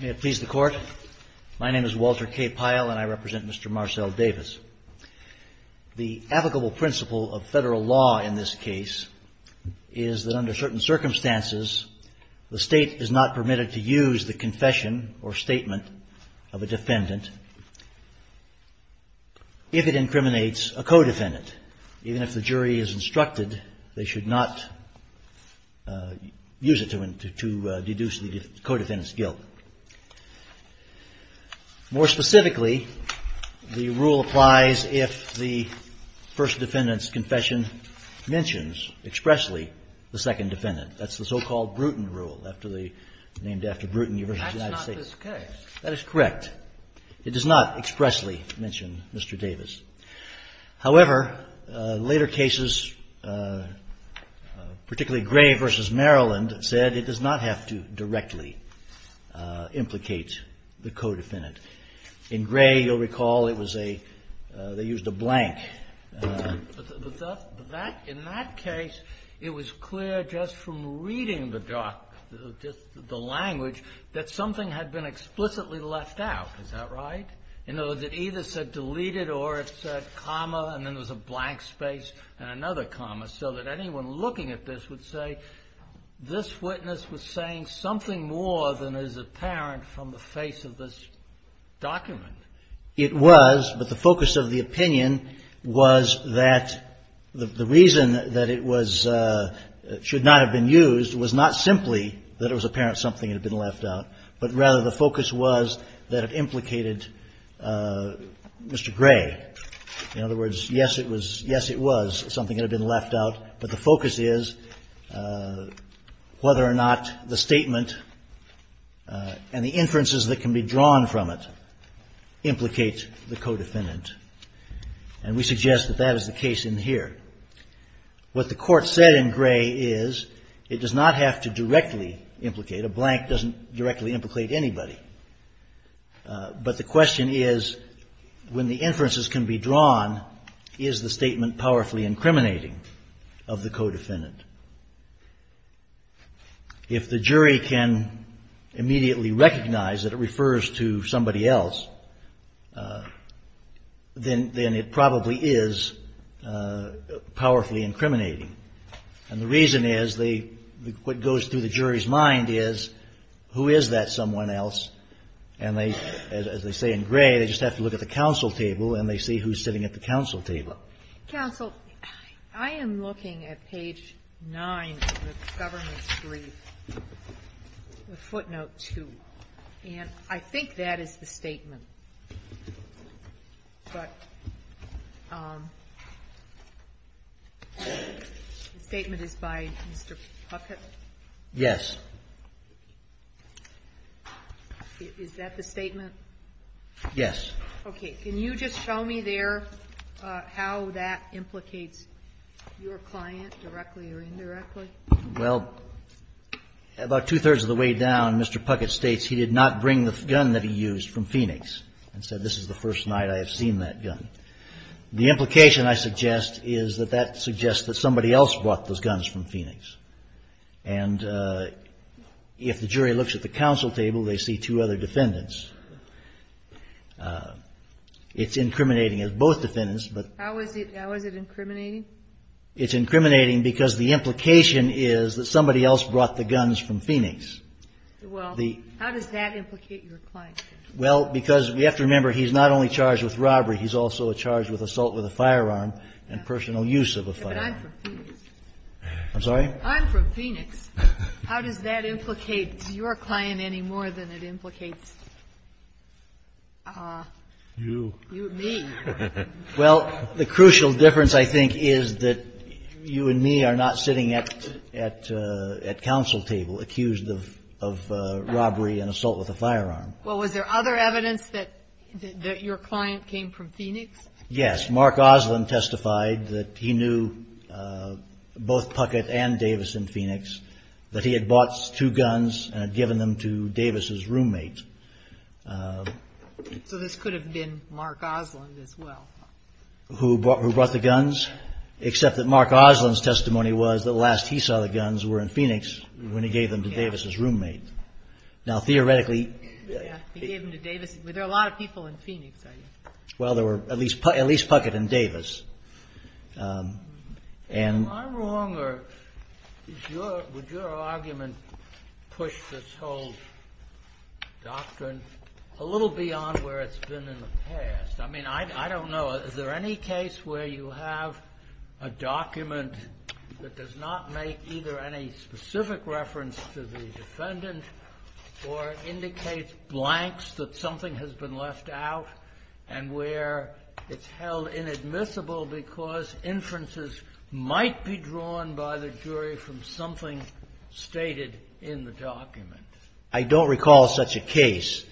May it please the Court. My name is Walter K. Pyle, and I represent Mr. Marcel Davis. The applicable principle of Federal law in this case is that under certain circumstances the State is not permitted to use the confession or statement of a defendant if it incriminates a co-defendant. Even if the jury is instructed, they should not use it to deduce the co-defendant's guilt. More specifically, the rule applies if the First Defendant's confession mentions expressly the Second Defendant. That's the so-called Bruton rule, named after Bruton, University of the United States. That's not this case. That is correct. It does not expressly mention Mr. Davis. However, later cases, particularly Gray v. Maryland, said it does not have to directly implicate the co-defendant. In Gray, you'll recall, it was a they used a blank. But that, in that case, it was clear just from reading the doc, just the language, that something had been explicitly left out. Is that right? In other words, it either said deleted or it said comma and then there was a blank space and another comma, so that anyone looking at this would say, this witness was saying something more than is apparent from the face of this document. It was, but the focus of the opinion was that the reason that it was, should not have been used was not simply that it was apparent something had been left out, but rather the focus was that it implicated Mr. Gray. In other words, yes, it was, yes, it was something that had been left out, but the focus is whether or not the statement and the inferences that can be drawn from it implicate the co-defendant. And we suggest that that is the case in here. What the court said in Gray is, it does not have to directly implicate, a blank doesn't directly implicate anybody. But the question is, when the inferences can be drawn, is the statement powerfully incriminating of the co-defendant. If the jury can immediately recognize that it refers to somebody else, then it probably is powerfully incriminating. And the reason is, what goes through the jury's mind is, who is that someone else? And they, as they say in Gray, they just have to look at the counsel table and they see who's sitting at the counsel table. Counsel, I am looking at page 9 of the government's brief, footnote 2, and I think that is the one that I'm looking at. The statement is by Mr. Puckett? Yes. Is that the statement? Yes. Okay. Can you just show me there how that implicates your client directly or indirectly? Well, about two-thirds of the way down, Mr. Puckett states he did not bring the gun that he used from Phoenix and said, this is the first night I have seen that gun. The implication, I suggest, is that that suggests that somebody else brought those guns from Phoenix. And if the jury looks at the counsel table, they see two other defendants. It's incriminating of both defendants, but... How is it incriminating? It's incriminating because the implication is that somebody else brought the guns from Phoenix. Well, how does that implicate your client? Well, because we have to remember he's not only charged with robbery, he's also charged with assault with a firearm and personal use of a firearm. But I'm from Phoenix. I'm sorry? I'm from Phoenix. How does that implicate your client any more than it implicates you, me? Well, the crucial difference, I think, is that you and me are not sitting at counsel table accused of robbery and assault with a firearm. Well, was there other evidence that your client came from Phoenix? Yes. Mark Oslin testified that he knew both Puckett and Davis in Phoenix, that he had bought two guns and had given them to Davis's roommate. So this could have been Mark Oslin as well. Who brought the guns, except that Mark Oslin's testimony was that last he saw the guns were in Phoenix when he gave them to Davis's roommate. Now, theoretically. He gave them to Davis. There are a lot of people in Phoenix, I guess. Well, there were at least Puckett and Davis. Am I wrong or would your argument push this whole doctrine a little beyond where it's been in the past? I mean, I don't know. Is there any case where you have a document that does not make either any specific reference to the defendant or indicates blanks that something has been left out and where it's held inadmissible because inferences might be drawn by the jury from something stated in the document? I don't recall such a case.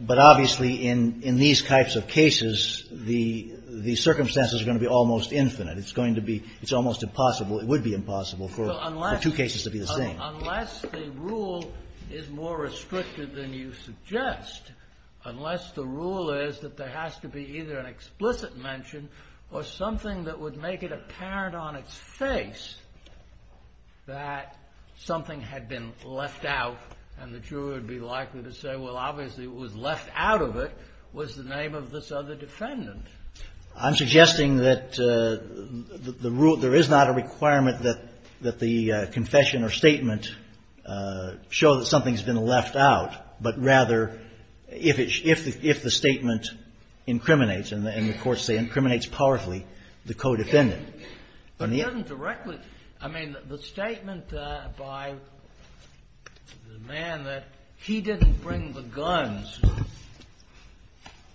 But obviously in these types of cases, the circumstances are going to be almost infinite. It's going to be almost impossible. It would be impossible for two cases to be the same. Well, unless the rule is more restricted than you suggest, unless the rule is that there has to be either an explicit mention or something that would make it apparent on its face that something had been left out and the jury would be likely to say, well, obviously it was left out of it, was the name of this other defendant. I'm suggesting that the rule, there is not a requirement that the confession or statement show that something's been left out, but rather if it's, if the statement incriminates, and the courts say incriminates powerfully, the co-defendant. It doesn't directly. I mean, the statement by the man that he didn't bring the guns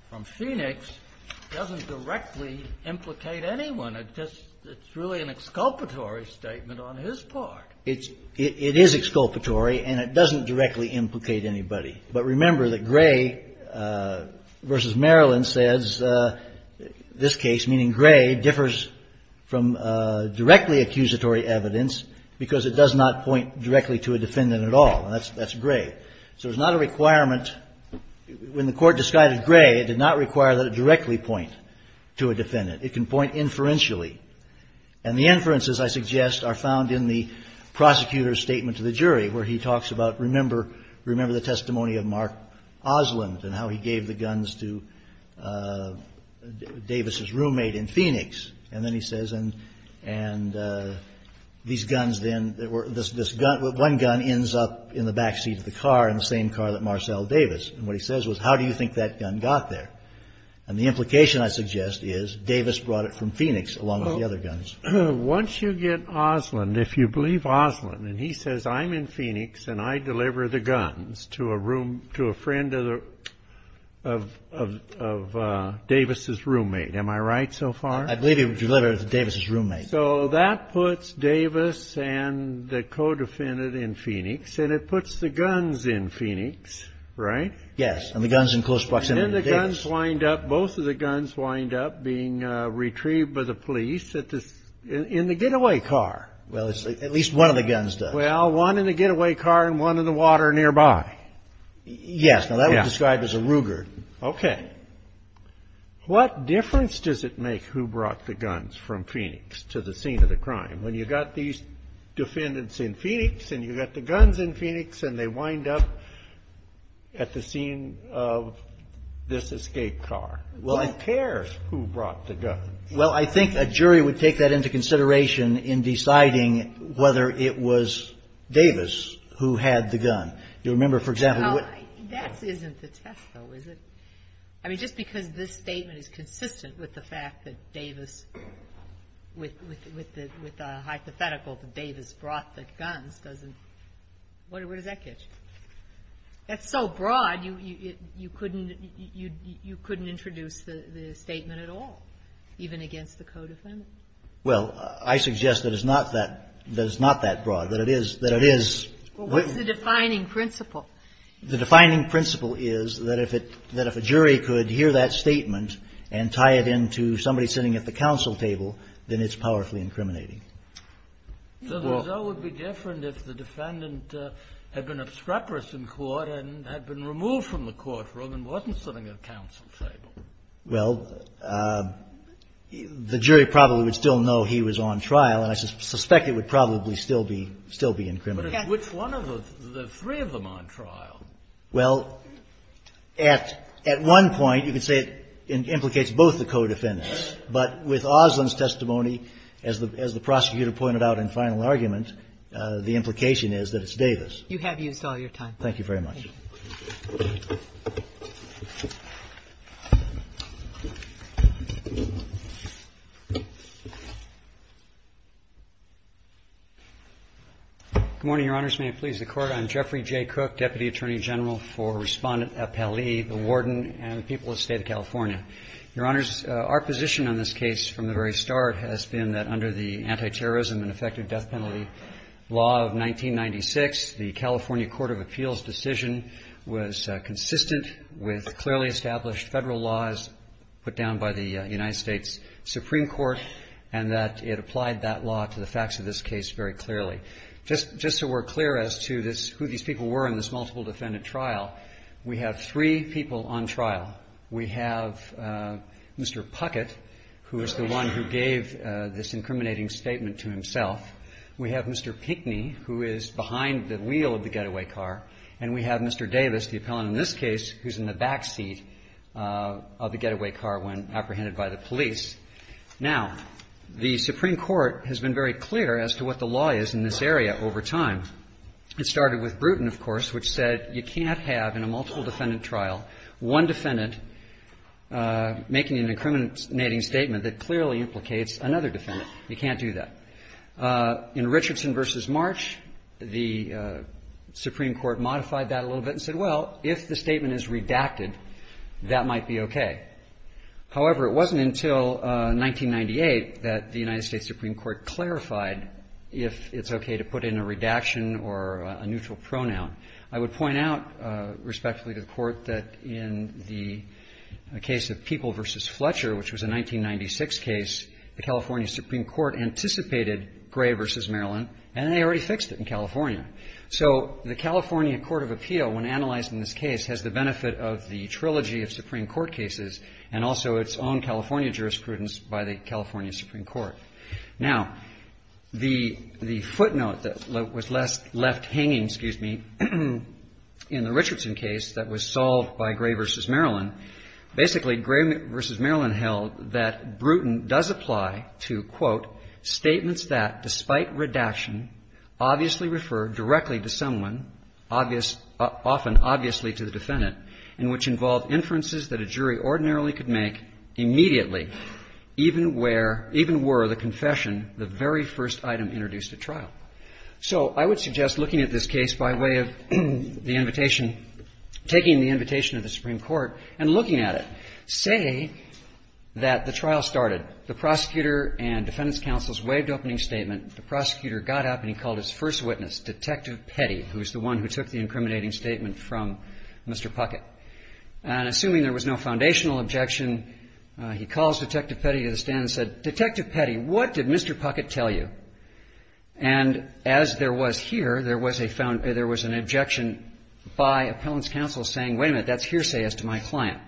from Phoenix doesn't directly implicate anyone. It's really an exculpatory statement on his part. It is exculpatory, and it doesn't directly implicate anybody. But remember that Gray v. Maryland says this case, meaning Gray, differs from directly accusatory evidence because it does not point directly to a defendant at all. That's Gray. So there's not a requirement. When the court disguided Gray, it did not require that it directly point to a defendant. It can point inferentially. And the inferences, I suggest, are found in the prosecutor's statement to the jury, where he talks about, remember, remember the testimony of Mark Oslund and how he gave the guns to Davis's roommate in Phoenix. And then he says, and these guns then, this gun, one gun ends up in the backseat of the car in the same car that Marcell Davis. And what he says was, how do you think that gun got there? And the implication, I suggest, is Davis brought it from Phoenix along with the other guns. Once you get Oslund, if you believe Oslund, and he says, I'm in Phoenix and I deliver the guns to a room, to a friend of Davis's roommate. Am I right so far? I believe he delivered it to Davis's roommate. So that puts Davis and the co-defendant in Phoenix. And it puts the guns in Phoenix, right? Yes. And the guns in close proximity to Davis. And then the guns wind up, both of the guns wind up being retrieved by the police in the getaway car. Well, at least one of the guns does. Well, one in the getaway car and one in the water nearby. Yes. Now, that was described as a Ruger. Okay. What difference does it make who brought the guns from Phoenix to the scene of the crime? When you've got these defendants in Phoenix and you've got the guns in Phoenix and they wind up at the scene of this escape car, who cares who brought the guns? Well, I think a jury would take that into consideration in deciding whether it was Davis who had the gun. You remember, for example, what — That isn't the test, though, is it? I mean, just because this statement is consistent with the fact that Davis — with the hypothetical that Davis brought the guns doesn't — what does that get you? That's so broad, you couldn't — you couldn't introduce the statement at all, even against the co-defendant. Well, I suggest that it's not that — that it's not that broad, that it is — that it is — Well, what's the defining principle? The defining principle is that if it — that if a jury could hear that statement and tie it into somebody sitting at the counsel table, then it's powerfully incriminating. So the result would be different if the defendant had been obstreperous in court and had been removed from the courtroom and wasn't sitting at a counsel table. Well, the jury probably would still know he was on trial, and I suspect it would probably still be — still be incriminating. But at which one of the — the three of them on trial? Well, at — at one point, you could say it implicates both the co-defendants. But with Oslin's testimony, as the — as the prosecutor pointed out in final argument, the implication is that it's Davis. You have used all your time. Thank you very much. Good morning, Your Honors. May it please the Court. I'm Jeffrey J. Cook, Deputy Attorney General for Respondent at Pelley, the Warden, and the people of the State of California. Your Honors, our position on this case from the very start has been that under the consistent with clearly established Federal laws put down by the United States Supreme Court, and that it applied that law to the facts of this case very clearly. Just — just so we're clear as to this — who these people were in this multiple defendant trial, we have three people on trial. We have Mr. Puckett, who is the one who gave this incriminating statement to himself. We have Mr. Pinckney, who is behind the wheel of the getaway car. And we have Mr. Davis, the appellant in this case, who's in the backseat of the getaway car when apprehended by the police. Now, the Supreme Court has been very clear as to what the law is in this area over time. It started with Brewton, of course, which said you can't have in a multiple defendant trial one defendant making an incriminating statement that clearly implicates another defendant. You can't do that. In Richardson v. March, the Supreme Court modified that a little bit and said, well, if the statement is redacted, that might be okay. However, it wasn't until 1998 that the United States Supreme Court clarified if it's okay to put in a redaction or a neutral pronoun. I would point out, respectfully to the Court, that in the case of People v. Fletcher, which was a 1996 case, the California Supreme Court anticipated Gray v. Maryland, and they already fixed it in California. So the California Court of Appeal, when analyzing this case, has the benefit of the trilogy of Supreme Court cases and also its own California jurisprudence by the California Supreme Court. Now, the footnote that was left hanging, excuse me, in the Richardson case that was Bruton does apply to, quote, statements that, despite redaction, obviously refer directly to someone, often obviously to the defendant, and which involve inferences that a jury ordinarily could make immediately, even were the confession the very first item introduced at trial. So I would suggest looking at this case by way of the invitation, taking the invitation of the Supreme Court, and looking at it. Say that the trial started. The prosecutor and defendants' counsels waived opening statement. The prosecutor got up and he called his first witness, Detective Petty, who is the one who took the incriminating statement from Mr. Puckett. And assuming there was no foundational objection, he calls Detective Petty to the stand and said, Detective Petty, what did Mr. Puckett tell you? And as there was here, there was a found – there was an objection by appellants' counsel saying, wait a minute, that's hearsay as to my client.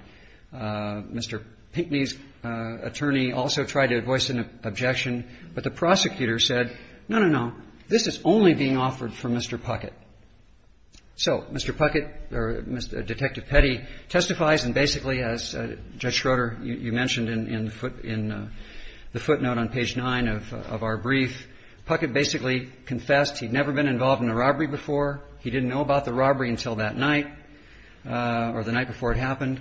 Mr. Pinckney's attorney also tried to voice an objection, but the prosecutor said, no, no, no, this is only being offered for Mr. Puckett. So Mr. Puckett or Detective Petty testifies and basically, as Judge Schroeder, you mentioned in the footnote on page 9 of our brief, Puckett basically confessed he'd never been involved in a robbery before. He didn't know about the robbery until that night. Or the night before it happened.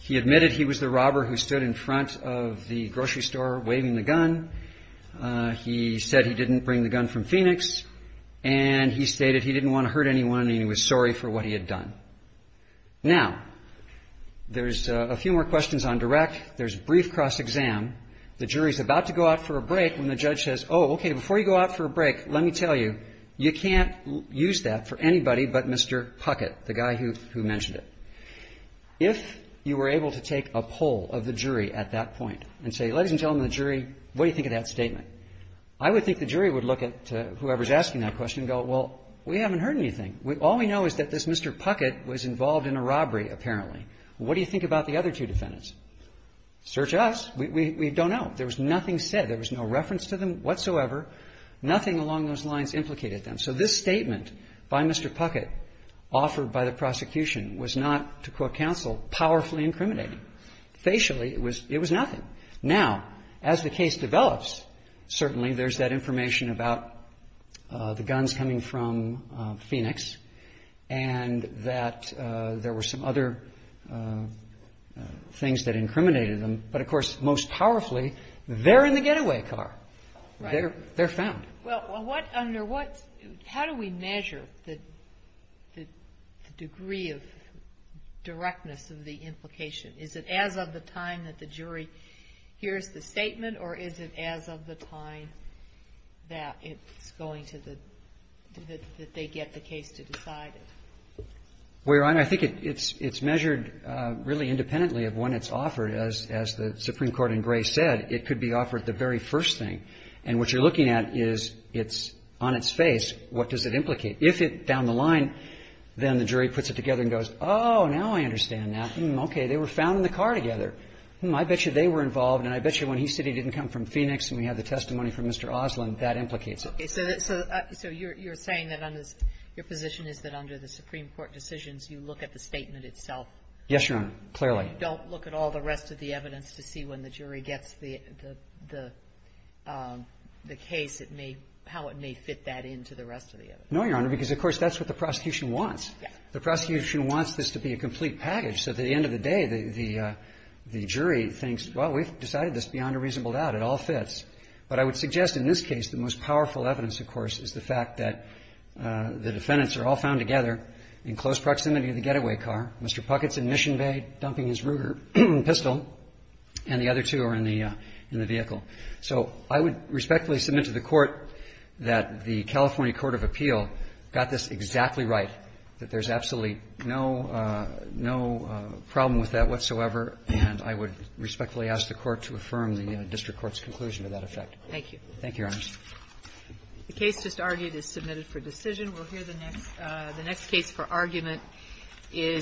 He admitted he was the robber who stood in front of the grocery store waving the gun. He said he didn't bring the gun from Phoenix. And he stated he didn't want to hurt anyone and he was sorry for what he had done. Now, there's a few more questions on direct. There's brief cross-exam. The jury's about to go out for a break when the judge says, oh, okay, before you go out for a break, let me tell you, you can't use that for anybody but Mr. Puckett, the guy who mentioned it. If you were able to take a poll of the jury at that point and say, ladies and gentlemen of the jury, what do you think of that statement? I would think the jury would look at whoever's asking that question and go, well, we haven't heard anything. All we know is that this Mr. Puckett was involved in a robbery, apparently. What do you think about the other two defendants? Search us. We don't know. There was nothing said. There was no reference to them whatsoever. Nothing along those lines implicated them. So this statement by Mr. Puckett offered by the prosecution was not, to quote counsel, powerfully incriminating. Facially, it was nothing. Now, as the case develops, certainly there's that information about the guns coming from Phoenix and that there were some other things that incriminated them. But, of course, most powerfully, they're in the getaway car. They're found. Well, what, under what, how do we measure the degree of directness of the implication? Is it as of the time that the jury hears the statement or is it as of the time that it's going to the, that they get the case to decide it? Well, Your Honor, I think it's measured really independently of when it's offered. As the Supreme Court in Gray said, it could be offered the very first thing. And what you're looking at is it's on its face. What does it implicate? If it's down the line, then the jury puts it together and goes, oh, now I understand that. Hmm, okay, they were found in the car together. Hmm, I bet you they were involved, and I bet you when he said he didn't come from Phoenix and we have the testimony from Mr. Oslin, that implicates it. Okay. So you're saying that under, your position is that under the Supreme Court decisions, you look at the statement itself? Yes, Your Honor, clearly. You don't look at all the rest of the evidence to see when the jury gets the case, it may, how it may fit that into the rest of the evidence? No, Your Honor, because, of course, that's what the prosecution wants. Yes. The prosecution wants this to be a complete package, so at the end of the day, the jury thinks, well, we've decided this beyond a reasonable doubt. It all fits. But I would suggest in this case the most powerful evidence, of course, is the fact that the defendants are all found together in close proximity of the getaway car. Mr. Puckett's in Mission Bay dumping his Ruger pistol, and the other two are in the vehicle. So I would respectfully submit to the Court that the California court of appeal got this exactly right, that there's absolutely no problem with that whatsoever, and I would respectfully ask the Court to affirm the district court's conclusion to that effect. Thank you. Thank you, Your Honor. The case just argued is submitted for decision. We'll hear the next case for argument is